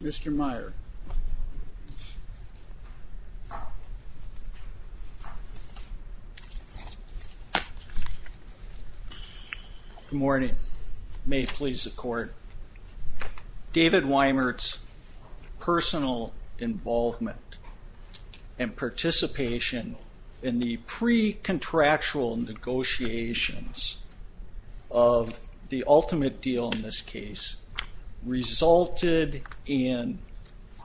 David Weimert's personal involvement and participation in the pre-contractual negotiations of the ultimate deal in this case resulted in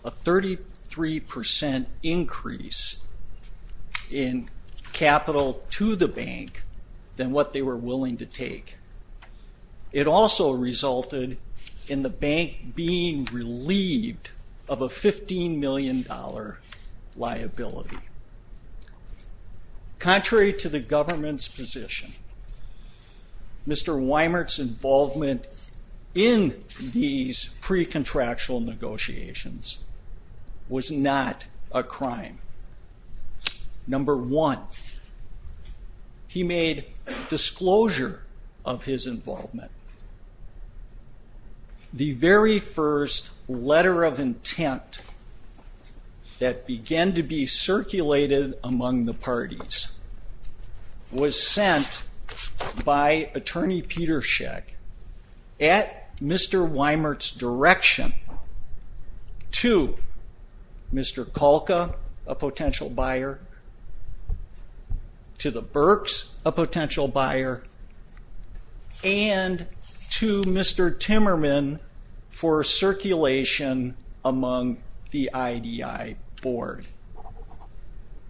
a 33 percent increase in capital to the bank than what they were willing to take. It also resulted in the bank being relieved of a 15 million dollar liability. Contrary to the government's position, Mr. Weimert's involvement in these pre-contractual negotiations was not a crime. Number one, he made disclosure of his involvement. The very first letter of intent that began to be circulated among the parties was sent by Attorney Peter Shek at Mr. Weimert's direction to Mr. Kalka, a and to Mr. Timmerman for circulation among the IDI board.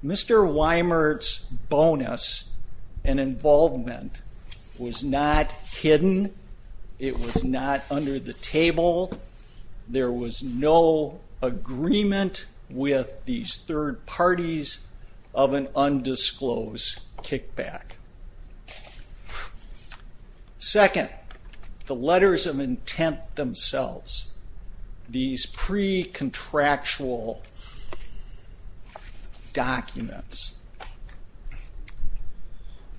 Mr. Weimert's bonus and involvement was not hidden. It was not under the table. There was no agreement with these third parties of an undisclosed kickback. Second, the letters of intent themselves, these pre-contractual documents.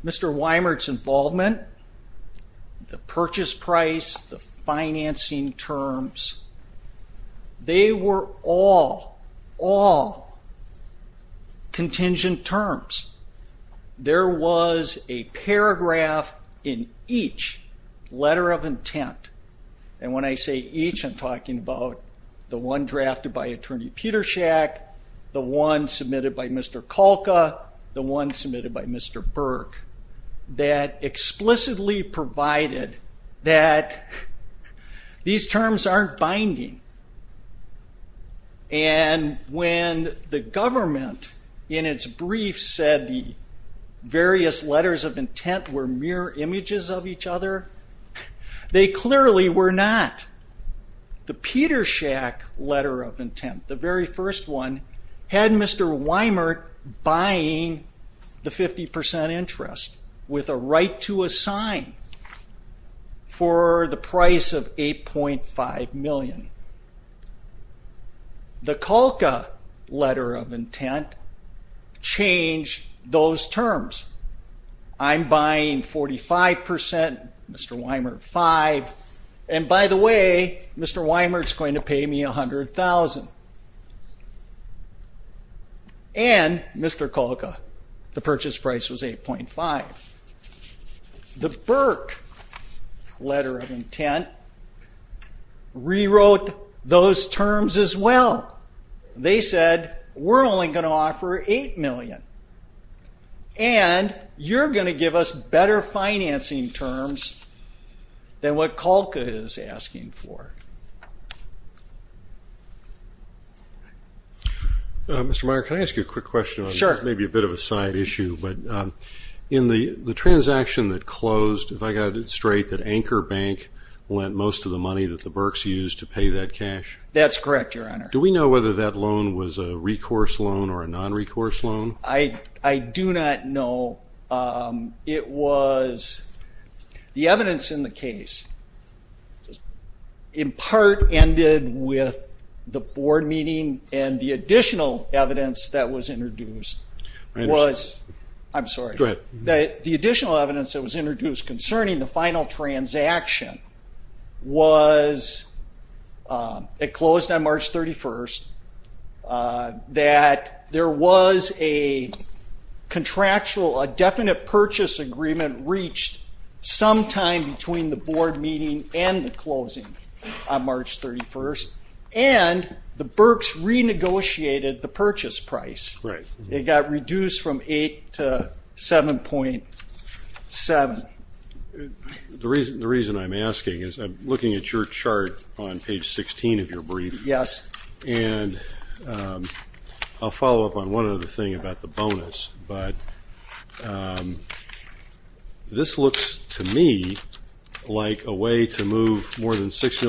Mr. Weimert's involvement, the purchase price, the financing terms, they were all contingent terms. There was a paragraph in each letter of intent, and when I say each I'm talking about the one drafted by Attorney Peter Shek, the one submitted by Mr. Kalka, the one submitted by Mr. Burke, that explicitly provided that these terms aren't binding. And when the government, in its brief, said the various letters of intent were mere images of each other, they clearly were not. The Peter Shek letter of intent, the very first one, had Mr. Weimert buying the 50% interest with a right to assign for the price of $8.5 million. The Kalka letter of intent changed those terms. I'm buying 45%, Mr. Weimert 5%, and by the way, Mr. Weimert's going to pay me $100,000. And Mr. Kalka, the purchase price was $8.5. The Burke letter of intent rewrote those terms as well. They said, we're only going to offer $8 million, and you're going to give us better financing terms than what Kalka is asking for. Mr. Meyer, can I ask you a quick question on maybe a bit of a side issue? In the transaction that closed, if I got it straight, that Anchor Bank lent most of the money that the Burkes used to pay that cash? That's correct, Your Honor. Do we know whether that loan was a recourse loan or a non-recourse loan? I do not know. It was, the evidence in the case in part ended with the board meeting and the additional evidence that was introduced was, I'm sorry, the additional evidence that was introduced concerning the final transaction was it closed on March 31st, that there was a contractual, a definite purchase agreement reached sometime between the board meeting and the closing on March 31st, and the Burkes renegotiated the purchase price. It got reduced from $8 million to $7.7 million. The reason I'm asking is I'm looking at your chart on page 16 of your brief, and I'll follow up on one other thing about the bonus, but this looks to me like a way to move more than the Burkes,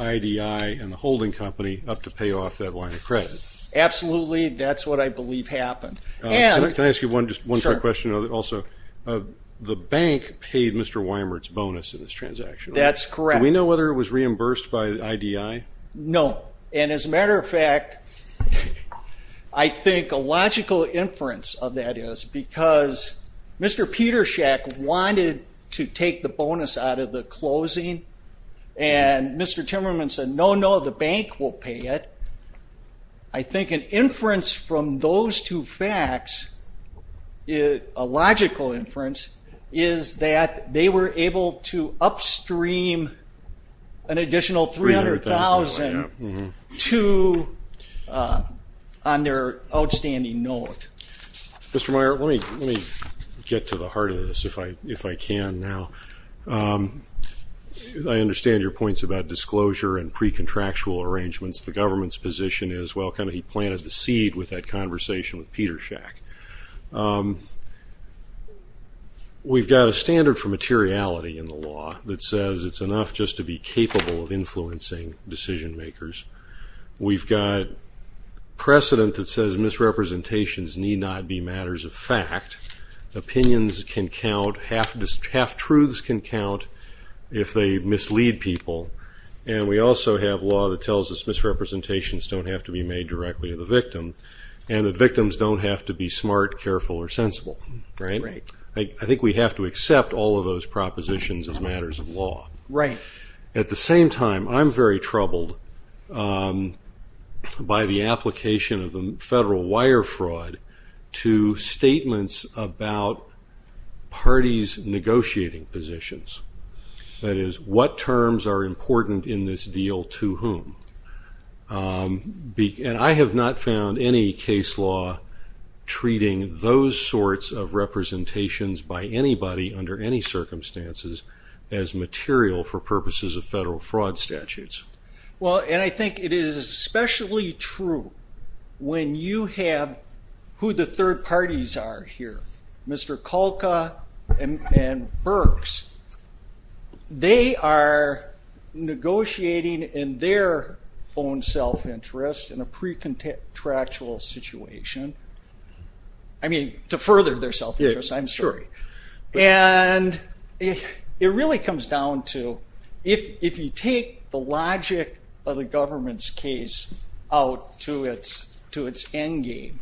IDI, and the holding company up to pay off that line of credit. Absolutely, that's what I believe happened. Can I ask you one quick question also? The bank paid Mr. Weimert's bonus in this transaction, right? That's correct. Do we know whether it was reimbursed by IDI? No, and as a matter of fact, I think a logical inference of that is because Mr. Petershack wanted to take the bonus out of the closing, and Mr. Timmerman said, no, no, the bank will pay it. I think an inference from those two facts, a logical inference, is that they were able to upstream an additional $300,000 to, on their outstanding note. Mr. Weimert, let me get to the heart of this if I can now. I understand your points about disclosure and pre-contractual arrangements. The government's position is, well, kind of he planted the seed with that conversation with Petershack. We've got a standard for materiality in the law that says it's enough just to be capable of influencing decision makers. We've got precedent that says misrepresentations need not be matters of fact. Opinions can count, half-truths can count if they mislead people, and we also have law that tells us misrepresentations don't have to be made directly to the victim, and that victims don't have to be smart, careful, or sensible, right? I think we have to accept all of those propositions as matters of law. At the same time, I'm very concerned by the application of the federal wire fraud to statements about parties negotiating positions. That is, what terms are important in this deal to whom? I have not found any case law treating those sorts of representations by anybody under any circumstances as material for purposes of federal fraud statutes. Well, and I think it is especially true when you have who the third parties are here. Mr. Kalka and Burks, they are negotiating in their own self-interest in a pre-contractual situation. I mean, to further their self-interest, I'm sorry. And it really comes down to, if you take the logic of the government's case out to its endgame,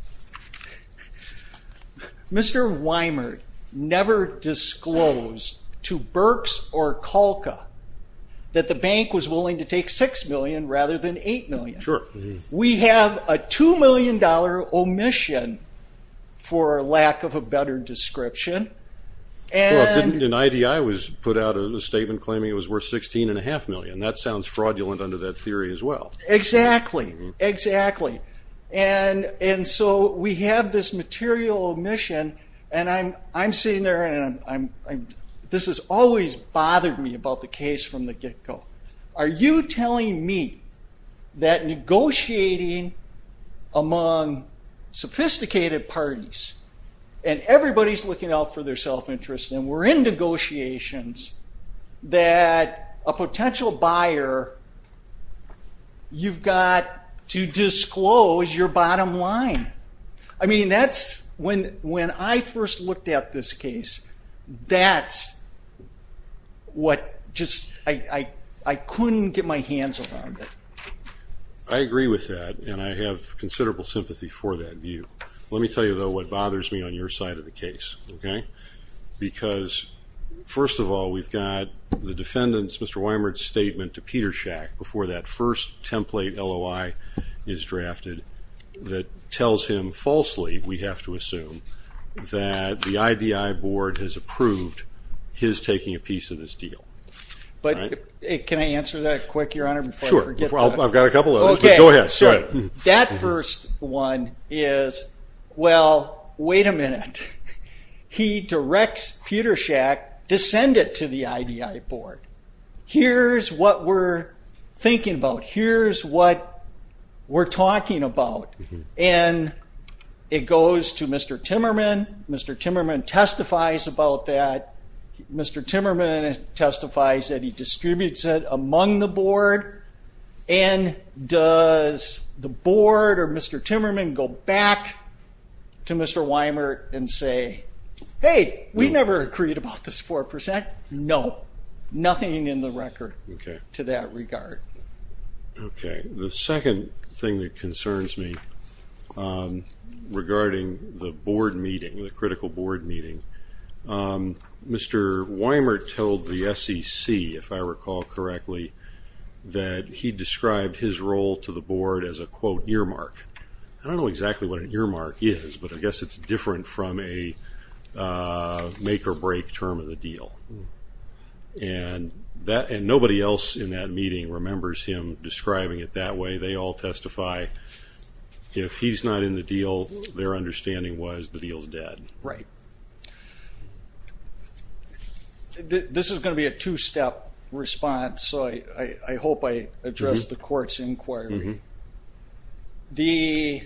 Mr. Weimer never disclosed to Burks or Kalka that the bank was willing to take $6 million rather than $8 million. We have a $2 million omission, for lack of a better description, and... And that sounds fraudulent under that theory as well. Exactly. Exactly. And so we have this material omission, and I'm sitting there, and this has always bothered me about the case from the get-go. Are you telling me that negotiating among sophisticated parties, and everybody's looking out for their self-interest, and we're in negotiations that a potential buyer, you've got to disclose your bottom line? I mean, that's, when I first looked at this case, that's what just, I couldn't get my hands around it. I agree with that, and I have considerable sympathy for that view. Let me tell you, though, what bothers me on your side of the case, okay? Because, first of all, we've got the defendant's, Mr. Weimer's, statement to Petershack before that first template LOI is drafted that tells him falsely, we have to assume, that the IDI board has approved his taking a piece of this deal. But, can I answer that quick, Your Honor, before I forget that? Sure. I've got a couple of those, but go ahead, go ahead. That first one is, well, wait a minute. He directs Petershack to send it to the IDI board. Here's what we're thinking about. Here's what we're talking about, and it goes to Mr. Timmerman. Mr. Timmerman testifies about that. Mr. Timmerman testifies that he distributes it among the board, or Mr. Timmerman go back to Mr. Weimer and say, hey, we never agreed about this 4%. No, nothing in the record to that regard. Okay. The second thing that concerns me regarding the board meeting, the critical board meeting, Mr. Weimer told the SEC, if I recall correctly, that he described his role to the board as a, quote, earmark. I don't know exactly what an earmark is, but I guess it's different from a make-or-break term of the deal. And nobody else in that meeting remembers him describing it that way. They all testify, if he's not in the deal, their understanding was the deal's dead. Right. This is going to be a two-step response, so I hope I addressed the court's inquiry. We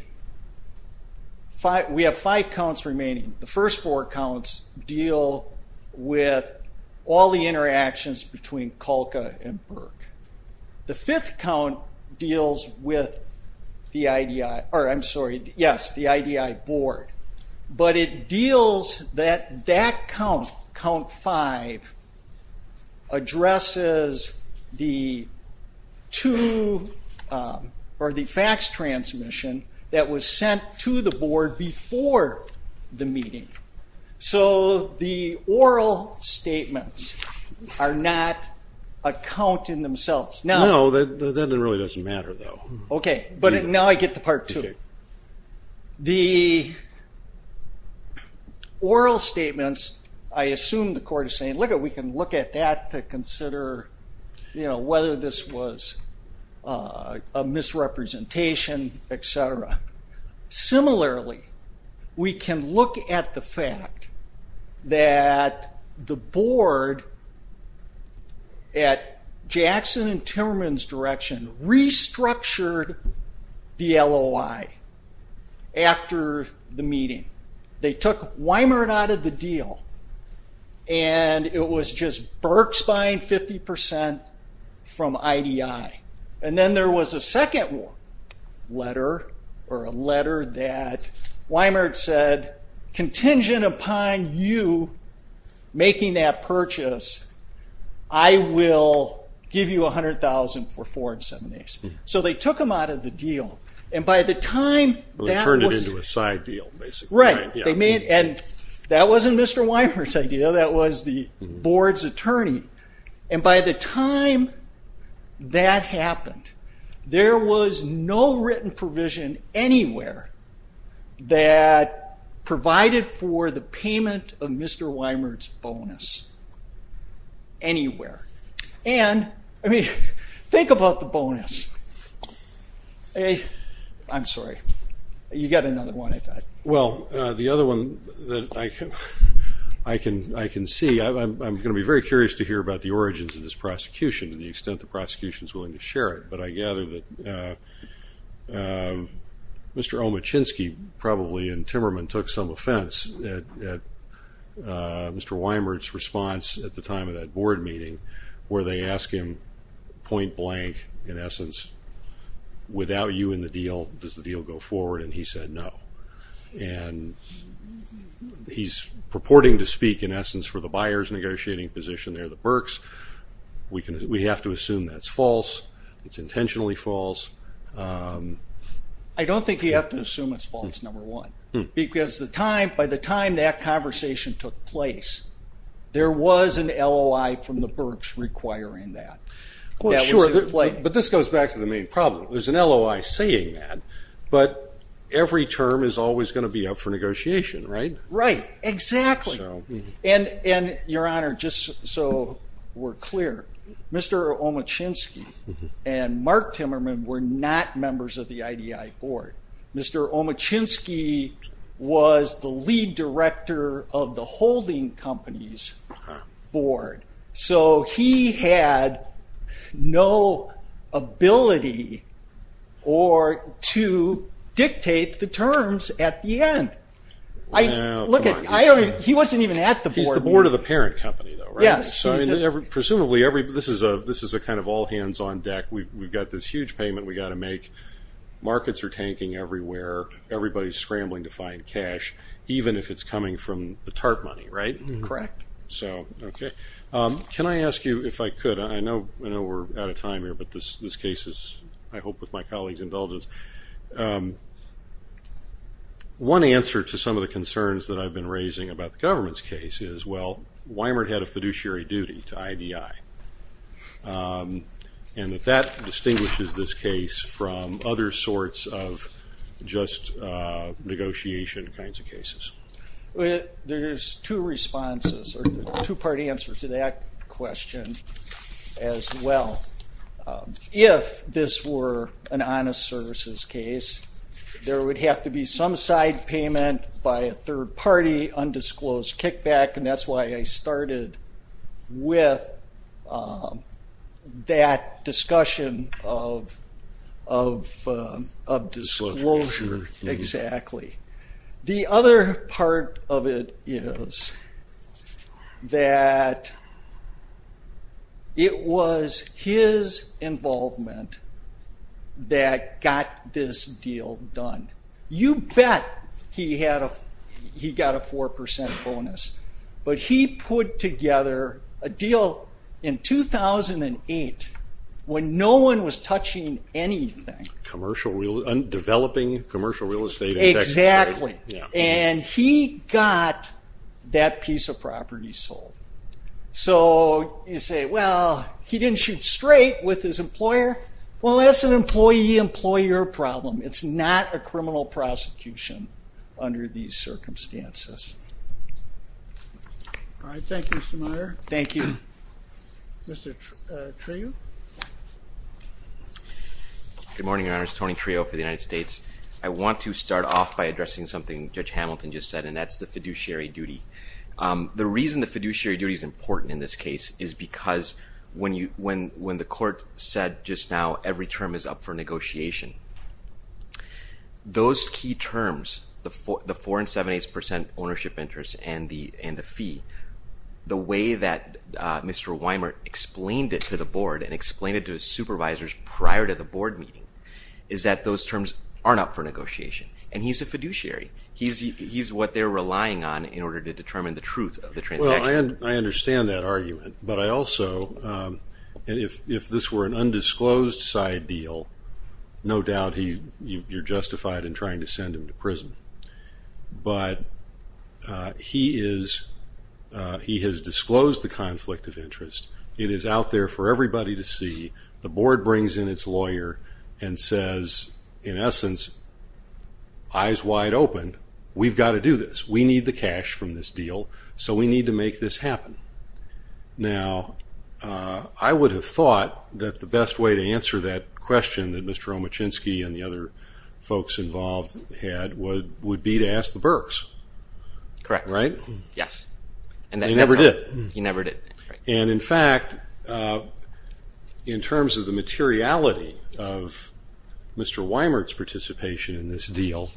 have five counts remaining. The first four counts deal with all the interactions between the IDI, or I'm sorry, yes, the IDI board. But it deals that that count, count five, addresses the two, or the fax transmission that was sent to the board before the meeting. So the oral statements are not a count in themselves. No, that really doesn't matter, though. Okay, but now I get to part two. The oral statements, I assume the court is saying, lookit, we can look at that to consider, you know, whether this was a misrepresentation, etc. Similarly, we can look at the fact that the board at Jackson and Timmerman's direction restructured the LOI after the meeting. They took Weimert out of the deal, and it was just a letter, or a letter that Weimert said, contingent upon you making that purchase, I will give you $100,000 for four and seven days. So they took him out of the deal, and by the time that was- They turned it into a side deal, basically. Right. And that wasn't Mr. Weimert's idea, that was the board's attorney. And by the time that happened, there was no written provision anywhere that provided for the payment of Mr. Weimert's bonus, anywhere. And, I mean, think about the bonus. I'm sorry, you got another one, I thought. Well, the other one that I can see, I'm going to be very curious to hear about the origins of this prosecution, to the extent the prosecution is willing to share it, but I gather that Mr. Omachinsky probably and Timmerman took some offense at Mr. Weimert's response at the time of that board meeting, where they ask him point blank, in essence, without you in the deal, does the deal go forward? And he said no. And he's purporting to speak, in essence, for the buyer's negotiating position, they're the Berks. We have to assume that's false, it's intentionally false. I don't think you have to assume it's false, number one, because by the time that conversation took place, there was an LOI from the Berks requiring that. Well, sure, but this goes back to the main problem. There's an LOI saying that, but every term is always going to be up for negotiation, right? Right, exactly. And, Your Honor, just so we're clear, Mr. Omachinsky and Mark Timmerman were not members of the IDI board. Mr. Omachinsky was the lead director of the holding company's board, so he had no ability to dictate the terms at the end. He wasn't even at the board meeting. He's the board of the parent company, though, right? Presumably, this is a kind of all-hands-on-deck, we've got this huge payment we've got to make, markets are tanking everywhere, everybody's scrambling to find cash, even if it's coming from the TARP money, right? Correct. So, okay. Can I ask you, if I could, I know we're out of time here, but this case is, I hope, with my colleague's indulgence. One answer to some of the concerns that I've been raising about the government's case is, well, Weimert had a fiduciary duty to IDI, and that that distinguishes this case from other sorts of just negotiation kinds of cases. There's two responses, or two-part answers to that question, as well. If this were an honest services case, there would have to be some side payment by a third party, undisclosed kickback, and that's why I started with that discussion of disclosure, exactly. The other part of it is that it was his involvement that got this deal done. You bet he got a 4% bonus, but he put together a deal in 2008 when no one was touching anything. Developing commercial real estate in Texas. Exactly. And he got that piece of property sold. So, you say, well, he didn't shoot straight with his employer. Well, that's an employee-employer problem. It's not a criminal prosecution under these circumstances. All right. Thank you, Mr. Meyer. Thank you. Mr. Trew. Good morning, Your Honors. Tony Trew for the United States. I want to start off by addressing something Judge Hamilton just said, and that's the fiduciary duty. The reason the fiduciary duty is important in this case is because when the court said just now every term is up for negotiation, those key terms, the 4 and 7-8% ownership interest and the fee, the way that Mr. Weimer explained it to the board and explained it to his supervisors prior to the board meeting is that those terms aren't up for negotiation, and he's a fiduciary. He's what they're relying on in order to determine the truth of the transaction. I understand that argument, but I also, and if this were an undisclosed side deal, no He has disclosed the conflict of interest. It is out there for everybody to see. The board brings in its lawyer and says, in essence, eyes wide open, we've got to do this. We need the cash from this deal, so we need to make this happen. Now, I would have thought that the best way to answer that question that Mr. Omachinsky and the other folks involved had would be to ask the Burks. Correct. Right? Yes. He never did. He never did. And, in fact, in terms of the materiality of Mr. Weimer's participation in this deal,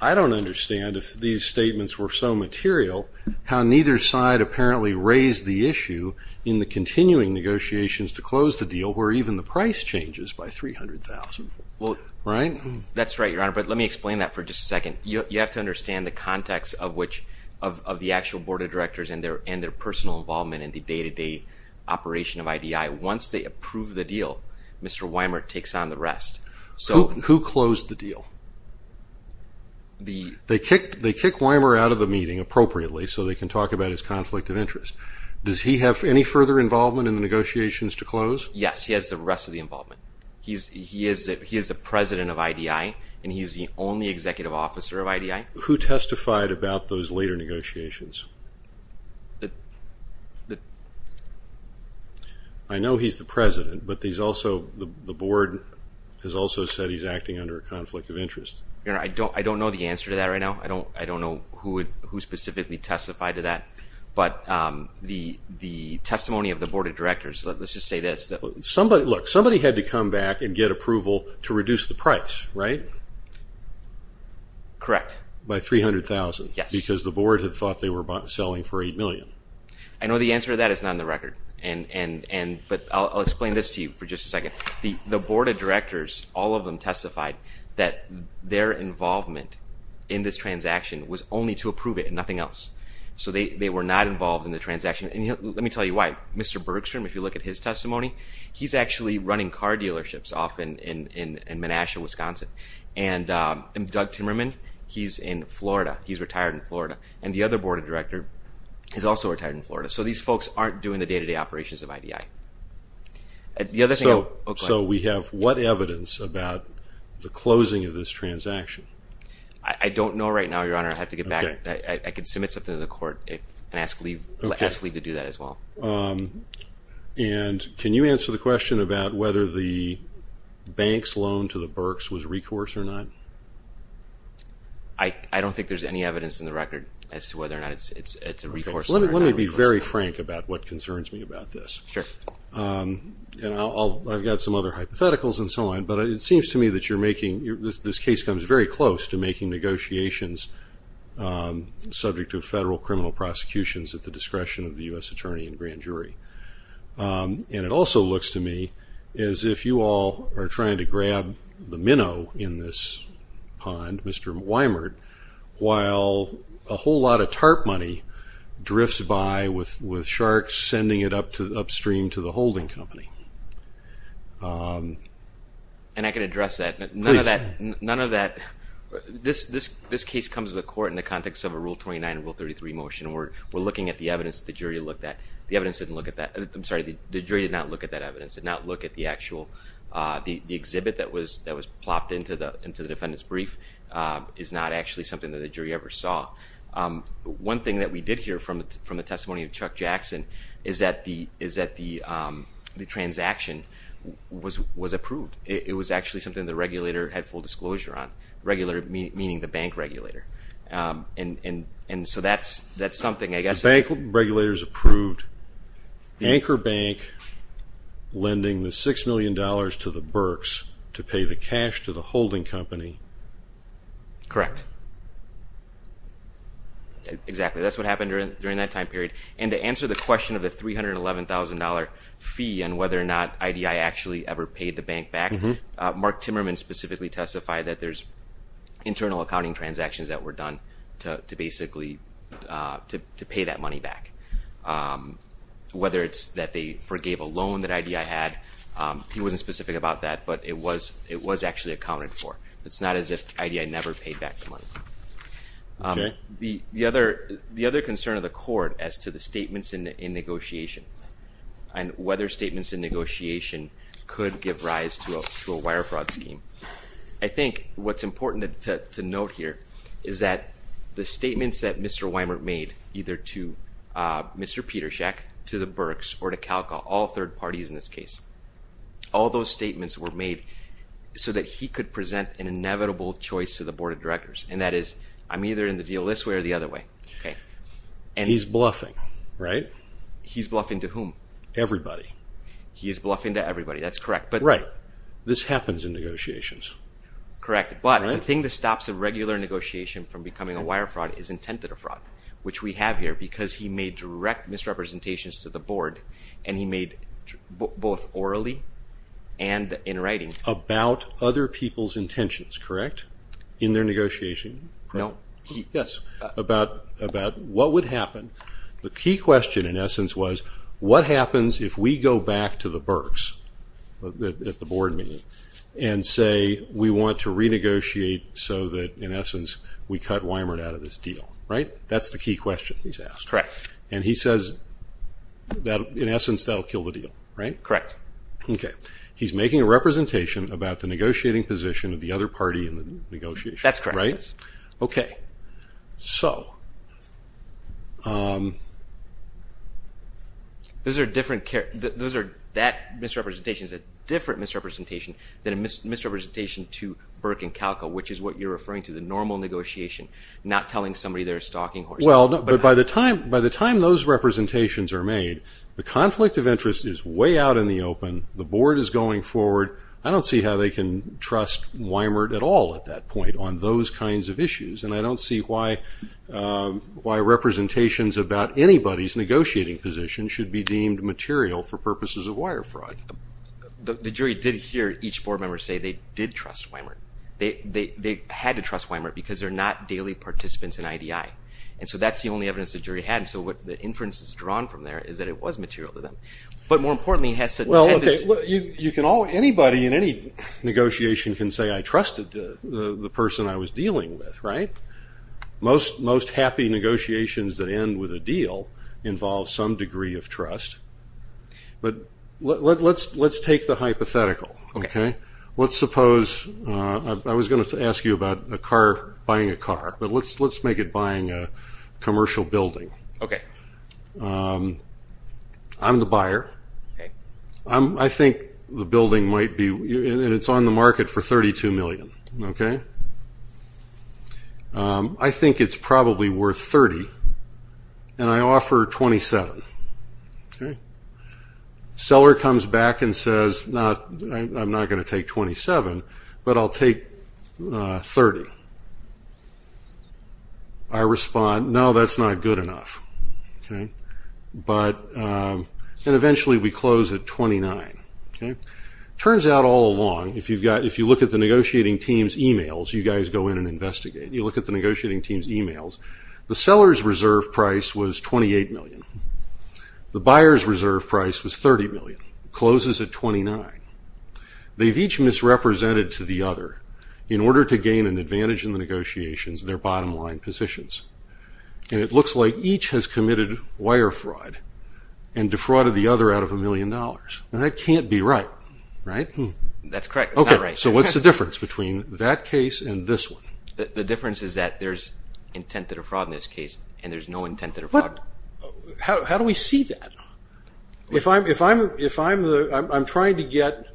I don't understand if these statements were so material how neither side apparently raised the issue in the continuing negotiations to close the deal where even the price changes by $300,000. Right? That's right, Your Honor, but let me explain that for just a second. You have to understand the context of the actual board of directors and their personal involvement in the day-to-day operation of IDI. Once they approve the deal, Mr. Weimer takes on the rest. Who closed the deal? They kicked Weimer out of the meeting appropriately so they can talk about his conflict of interest. Does he have any further involvement in the negotiations to close? Yes, he has the rest of the involvement. He is the president of IDI and he's the only executive officer of IDI. Who testified about those later negotiations? I know he's the president, but the board has also said he's acting under a conflict of interest. Your Honor, I don't know the answer to that right now. I don't know who specifically testified to that, but the testimony of the board of directors, let's just say this. Look, somebody had to come back and get approval to reduce the price, right? Correct. By $300,000. Yes. Because the board had thought they were selling for $8 million. I know the answer to that is not in the record, but I'll explain this to you for just a second. The board of directors, all of them testified that their involvement in this transaction was only to approve it and nothing else. They were not involved in the transaction. Let me tell you why. Mr. Bergstrom, if you look at his testimony, he's actually running car dealerships off in Menasha, Wisconsin, and Doug Timmerman, he's in Florida. He's retired in Florida. The other board of directors is also retired in Florida. These folks aren't doing the day-to-day operations of IDI. We have what evidence about the closing of this transaction? I don't know right now, Your Honor. I have to get back. I can submit something to the court and ask Lee to do that as well. Can you answer the question about whether the bank's loan to the Berks was recourse or not? I don't think there's any evidence in the record as to whether or not it's a recourse or not. Let me be very frank about what concerns me about this. Sure. I've got some other hypotheticals and so on, but it seems to me that you're making... This case comes very close to making negotiations subject to federal criminal prosecutions at the discretion of the U.S. attorney and grand jury. It also looks to me as if you all are trying to grab the minnow in this pond, Mr. Weimert, while a whole lot of TARP money drifts by with sharks sending it upstream to the holding company. I can address that. None of that... This case comes to the court in the context of a Rule 29 and Rule 33 motion. We're looking at the evidence that the jury looked at. The evidence didn't look at that. I'm sorry. The jury did not look at that evidence. Did not look at the actual... The exhibit that was plopped into the defendant's brief is not actually something that the jury ever saw. One thing that we did hear from the testimony of Chuck Jackson is that the transaction was approved. It was actually something the regulator had full disclosure on, meaning the bank regulator. That's something, I guess... The bank regulators approved Anchor Bank lending the $6 million to the Burks to pay the cash to the holding company... Correct. Exactly. That's what happened during that time period. To answer the question of the $311,000 fee and whether or not IDI actually ever paid the bank back, Mark Timmerman specifically testified that there's internal accounting transactions that were done to pay that money back. Whether it's that they forgave a loan that IDI had, he wasn't specific about that, but it was actually accounted for. It's not as if IDI never paid back the money. The other concern of the court as to the statements in negotiation and whether statements in negotiation could give rise to a wire fraud scheme. I think what's important to note here is that the statements that Mr. Weimert made, either to Mr. Petershak, to the Burks, or to Calco, all third parties in this case, all those statements were made so that he could present an inevitable choice to the board of directors. That is, I'm either in the deal this way or the other way. He's bluffing, right? He's bluffing to whom? Everybody. He is bluffing to everybody, that's correct. Right. This happens in negotiations. Correct. But the thing that stops a regular negotiation from becoming a wire fraud is intentative fraud, which we have here, because he made direct misrepresentations to the board, and he made both orally and in writing. About other people's intentions, correct? In their negotiation? No. Yes. About what would happen. The key question, in essence, was what happens if we go back to the Burks, at the board meeting, and say we want to renegotiate so that, in essence, we cut Weimert out of this deal? That's the key question he's asked. Correct. He says, in essence, that will kill the deal, right? Correct. He's making a representation about the negotiating position of the other party in the negotiation. That's correct. Right? Okay. So. Those are different, that misrepresentation is a different misrepresentation than a misrepresentation to Burke and Kalko, which is what you're referring to, the normal negotiation, not telling somebody they're a stalking horse. Well, but by the time those representations are made, the conflict of interest is way out in the open, the board is going forward, I don't see how they can trust Weimert at all at that point on those kinds of issues, and I don't see why representations about anybody's negotiating position should be deemed material for purposes of wire fraud. The jury did hear each board member say they did trust Weimert. They had to trust Weimert because they're not daily participants in IDI, and so that's the only evidence the jury had, and so what the inference is drawn from there is that it was material to them. But more importantly, it has such a tendency. You can, anybody in any negotiation can say I trusted the person I was dealing with, right? Most happy negotiations that end with a deal involve some degree of trust, but let's take the hypothetical, okay? Let's suppose, I was going to ask you about a car, buying a car, but let's make it buying a commercial building. I'm the buyer. Okay. I think the building might be, and it's on the market for $32 million, okay? I think it's probably worth $30, and I offer $27, okay? Seller comes back and says, I'm not going to take $27, but I'll take $30. I respond, no, that's not good enough, okay? But, and eventually we close at $29, okay? Turns out all along, if you look at the negotiating team's emails, you guys go in and investigate, you look at the negotiating team's emails, the seller's reserve price was $28 million. The buyer's reserve price was $30 million, closes at $29. They've each misrepresented to the other, in order to gain an advantage in the negotiations, their bottom line positions. And it looks like each has committed wire fraud, and defrauded the other out of a million dollars. Now that can't be right, right? That's correct. It's not right. Okay, so what's the difference between that case and this one? The difference is that there's intent to defraud in this case, and there's no intent to defraud. How do we see that? If I'm trying to get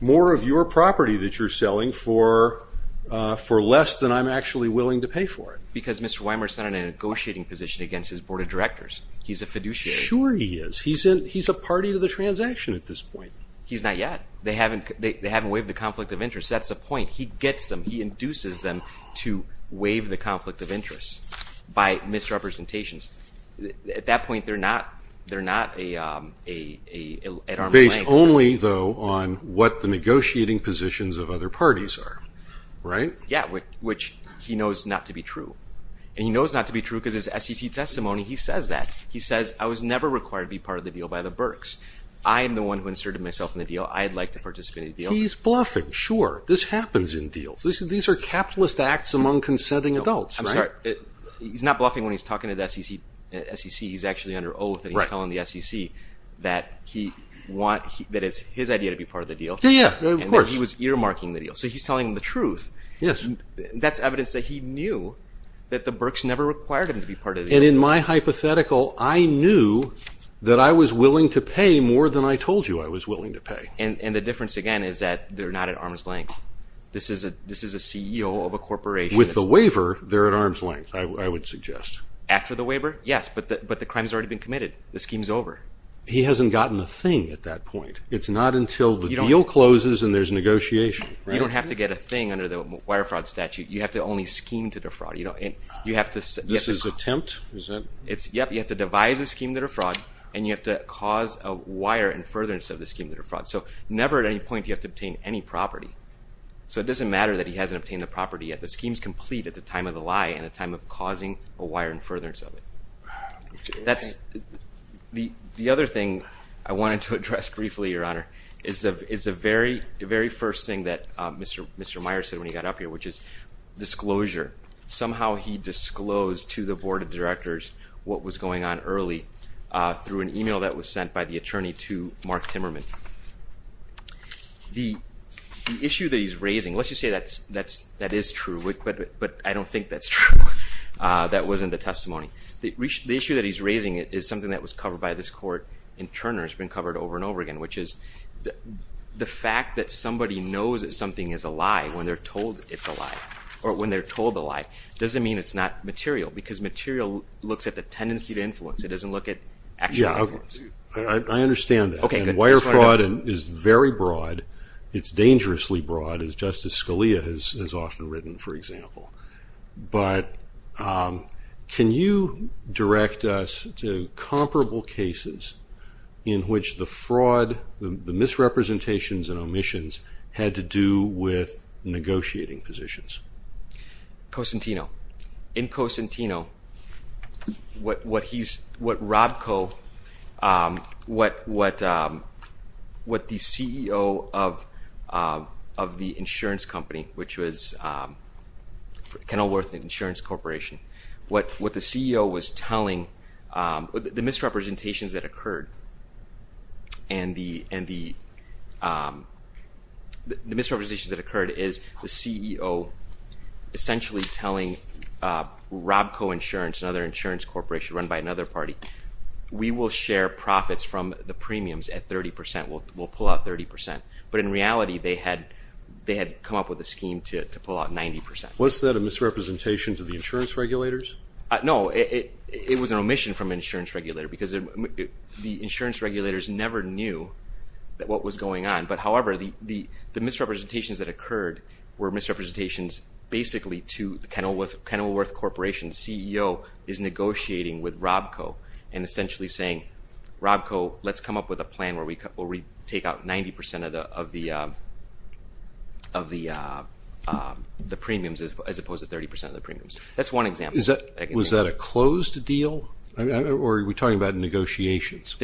more of your property that you're selling for less than I'm actually willing to pay for it. It's because Mr. Weimer's not in a negotiating position against his board of directors. He's a fiduciary. Sure he is. He's a party to the transaction at this point. He's not yet. They haven't waived the conflict of interest. That's the point. He gets them. He induces them to waive the conflict of interest by misrepresentations. At that point, they're not at arm's length. Based only, though, on what the negotiating positions of other parties are, right? Yeah, which he knows not to be true, and he knows not to be true because his SEC testimony, he says that. He says, I was never required to be part of the deal by the Berks. I'm the one who inserted myself in the deal. I'd like to participate in the deal. He's bluffing. Sure. This happens in deals. These are capitalist acts among consenting adults, right? I'm sorry. He's not bluffing when he's talking to the SEC. He's actually under oath, and he's telling the SEC that it's his idea to be part of the deal. Yeah, yeah. Of course. He was earmarking the deal, so he's telling the truth. Yes. That's evidence that he knew that the Berks never required him to be part of the deal. In my hypothetical, I knew that I was willing to pay more than I told you I was willing to pay. The difference, again, is that they're not at arm's length. This is a CEO of a corporation. With the waiver, they're at arm's length, I would suggest. After the waiver? Yes, but the crime's already been committed. The scheme's over. He hasn't gotten a thing at that point. It's not until the deal closes and there's negotiation, right? You don't have to get a thing under the wire fraud statute. You have to only scheme to defraud. You have to- This is attempt? Is that- Yep. You have to devise a scheme to defraud, and you have to cause a wire and furtherance of the scheme to defraud. So never at any point do you have to obtain any property. So it doesn't matter that he hasn't obtained the property yet. The scheme's complete at the time of the lie and the time of causing a wire and furtherance of it. The other thing I wanted to address briefly, Your Honor, is the very first thing that Mr. Meyer said when he got up here, which is disclosure. Somehow he disclosed to the board of directors what was going on early through an email that was sent by the attorney to Mark Timmerman. The issue that he's raising, let's just say that is true, but I don't think that's true. That wasn't the testimony. The issue that he's raising is something that was covered by this court in Turner. It's been covered over and over again, which is the fact that somebody knows that something is a lie when they're told it's a lie, or when they're told the lie, doesn't mean it's not material, because material looks at the tendency to influence. It doesn't look at- Yeah. I understand that. Okay, good. Wire fraud is very broad. It's dangerously broad, as Justice Scalia has often written, for example. But can you direct us to comparable cases in which the fraud, the misrepresentations and omissions had to do with negotiating positions? Cosentino. In Cosentino, what Rob Co, what the CEO of the insurance company, which was Kenilworth Insurance Corporation, what the CEO was telling, the misrepresentations that occurred is the Rob Co Insurance, another insurance corporation run by another party, we will share profits from the premiums at 30 percent, we'll pull out 30 percent. But in reality, they had come up with a scheme to pull out 90 percent. Was that a misrepresentation to the insurance regulators? No, it was an omission from an insurance regulator, because the insurance regulators never knew what was going on. But however, the misrepresentations that occurred were misrepresentations basically to the Kenilworth Corporation CEO is negotiating with Rob Co and essentially saying, Rob Co, let's come up with a plan where we take out 90 percent of the premiums as opposed to 30 percent of the premiums. That's one example. Was that a closed deal, or were you talking about negotiations?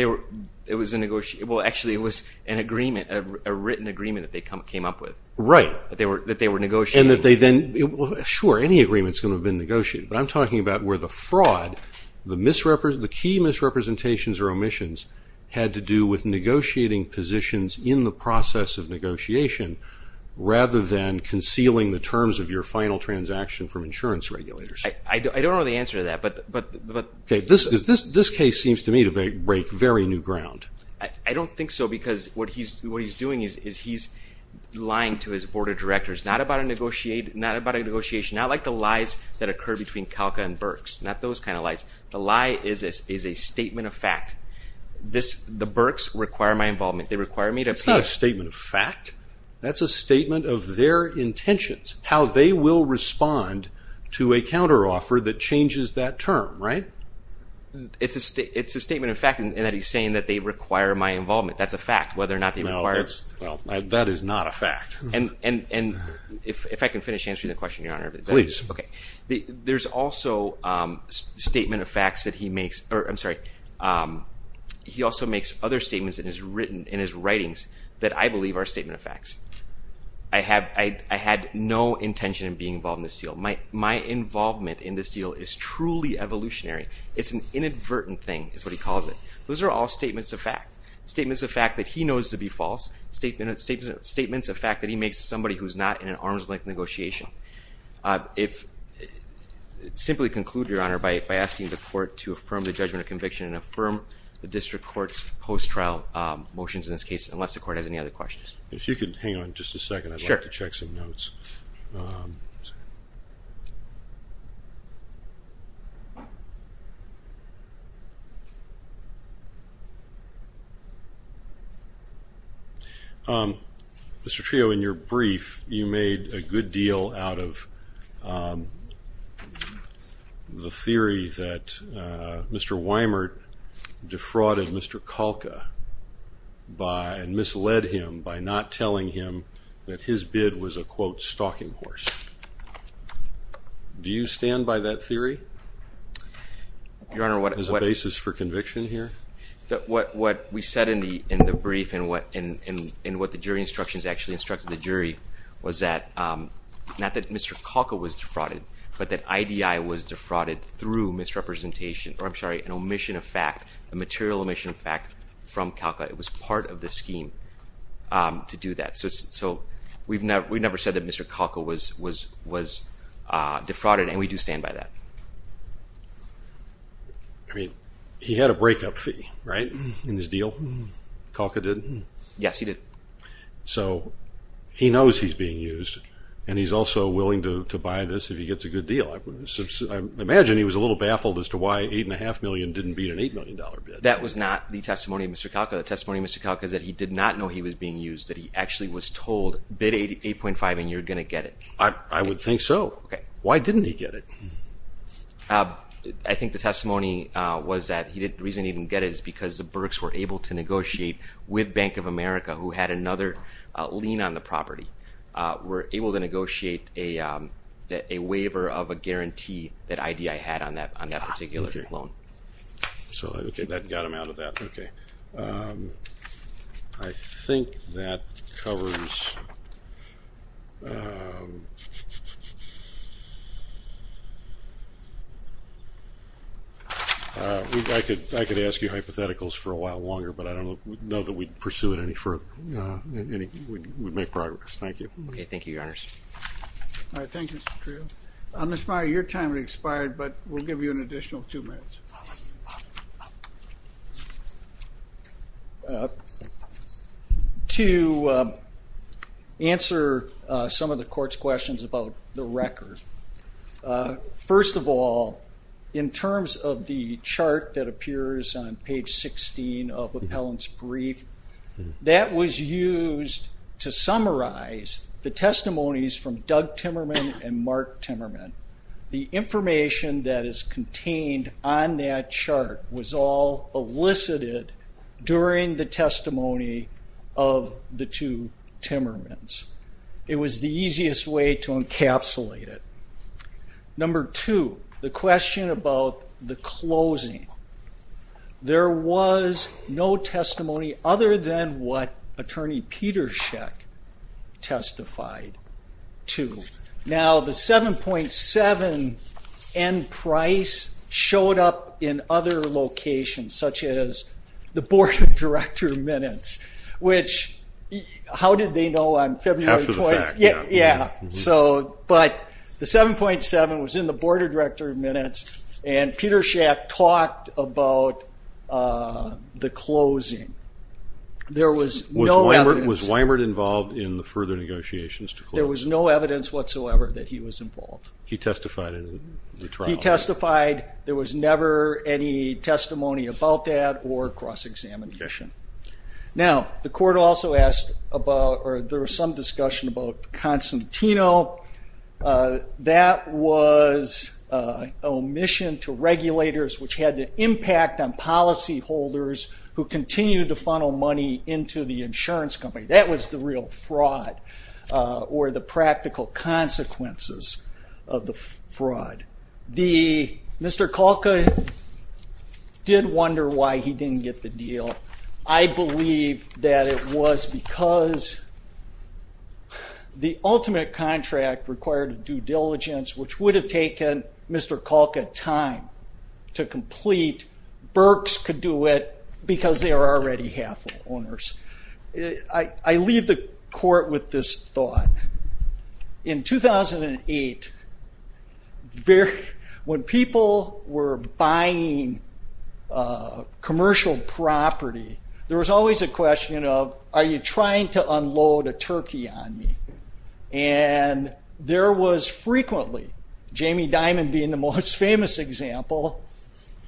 It was a negotiated, well, actually, it was an agreement, a written agreement that they came up with. Right. That they were negotiating. And that they then, sure, any agreement is going to have been negotiated, but I'm talking about where the fraud, the key misrepresentations or omissions had to do with negotiating positions in the process of negotiation, rather than concealing the terms of your final transaction from insurance regulators. I don't know the answer to that, but. Okay, this case seems to me to break very new ground. I don't think so, because what he's doing is he's lying to his board of directors. Not about a negotiation, not like the lies that occur between Kalka and Burks. Not those kind of lies. The lie is a statement of fact. The Burks require my involvement. They require me to. It's not a statement of fact. That's a statement of their intentions, how they will respond to a counteroffer that changes that term, right? It's a statement of fact in that he's saying that they require my involvement. That's a fact, whether or not they require. That is not a fact. And if I can finish answering the question, Your Honor. Please. Okay. There's also statement of facts that he makes, or I'm sorry. He also makes other statements in his writings that I believe are statement of facts. I had no intention of being involved in this deal. My involvement in this deal is truly evolutionary. It's an inadvertent thing, is what he calls it. Those are all statements of fact. Statements of fact that he knows to be false. Statements of fact that he makes to somebody who's not in an arm's length negotiation. Simply conclude, Your Honor, by asking the court to affirm the judgment of conviction and affirm the district court's post-trial motions in this case, unless the court has any other questions. If you could hang on just a second, I'd like to check some notes. Mr. Trio, in your brief, you made a good deal out of the theory that Mr. Weimert defrauded Mr. Kalka and misled him by not telling him that his bid was a, quote, stalking horse. Do you stand by that theory as a basis for conviction here? What we said in the brief and what the jury instructions actually instructed the jury was that, not that Mr. Kalka was defrauded, but that IDI was defrauded through misrepresentation, or I'm sorry, an omission of fact, a material omission of fact from Kalka. It was part of the scheme to do that. So we've never said that Mr. Kalka was defrauded, and we do stand by that. I mean, he had a breakup fee, right, in his deal? Kalka didn't? Yes, he did. So he knows he's being used, and he's also willing to buy this if he gets a good deal. I imagine he was a little baffled as to why $8.5 million didn't beat an $8 million bid. That was not the testimony of Mr. Kalka. The testimony of Mr. Kalka is that he did not know he was being used, that he actually was told, bid 8.5 and you're going to get it. I would think so. Why didn't he get it? I think the testimony was that he didn't, the reason he didn't get it is because the Burks were able to negotiate with Bank of America, who had another lien on the property, were able to negotiate a waiver of a guarantee that I.D.I. had on that particular loan. So that got him out of that, okay. I think that covers, I could ask you hypotheticals for a while longer, but I don't know that we'd pursue it any further, we'd make progress. Thank you. Thank you, Your Honors. All right. Thank you, Mr. Trio. Mr. Meyer, your time has expired, but we'll give you an additional two minutes. To answer some of the Court's questions about the record, first of all, in terms of the That was used to summarize the testimonies from Doug Timmerman and Mark Timmerman. The information that is contained on that chart was all elicited during the testimony of the two Timmermans. It was the easiest way to encapsulate it. Number two, the question about the closing. There was no testimony other than what Attorney Petersheck testified to. Now the 7.7 end price showed up in other locations, such as the Board of Director Minutes, which how did they know on February 20th? After the fact. Yeah. But the 7.7 was in the Board of Director Minutes, and Petersheck talked about the closing. There was no evidence. Was Weimert involved in the further negotiations to close? There was no evidence whatsoever that he was involved. He testified in the trial. He testified. There was never any testimony about that or cross-examination. Now, the court also asked about, or there was some discussion about Constantino. That was an omission to regulators, which had an impact on policyholders who continued to funnel money into the insurance company. That was the real fraud, or the practical consequences of the fraud. Mr. Kalka did wonder why he didn't get the deal. I believe that it was because the ultimate contract required due diligence, which would have taken Mr. Kalka time to complete. Berks could do it because they are already half owners. I leave the court with this thought. In 2008, when people were buying commercial property, there was always a question of, are you trying to unload a turkey on me? There was frequently, Jamie Dimon being the most famous example,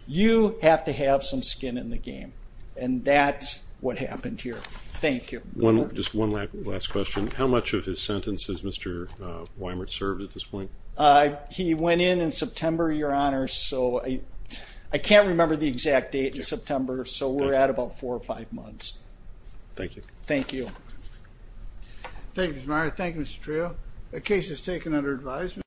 you have to have some skin in the game. That's what happened here. Thank you. Just one last question. How much of his sentence has Mr. Weimert served at this point? He went in in September, Your Honor, so I can't remember the exact date, September, so we're at about four or five months. Thank you. Thank you. Thank you, Mr. Meier. Thank you, Mr. Trejo. The case is taken under advisement.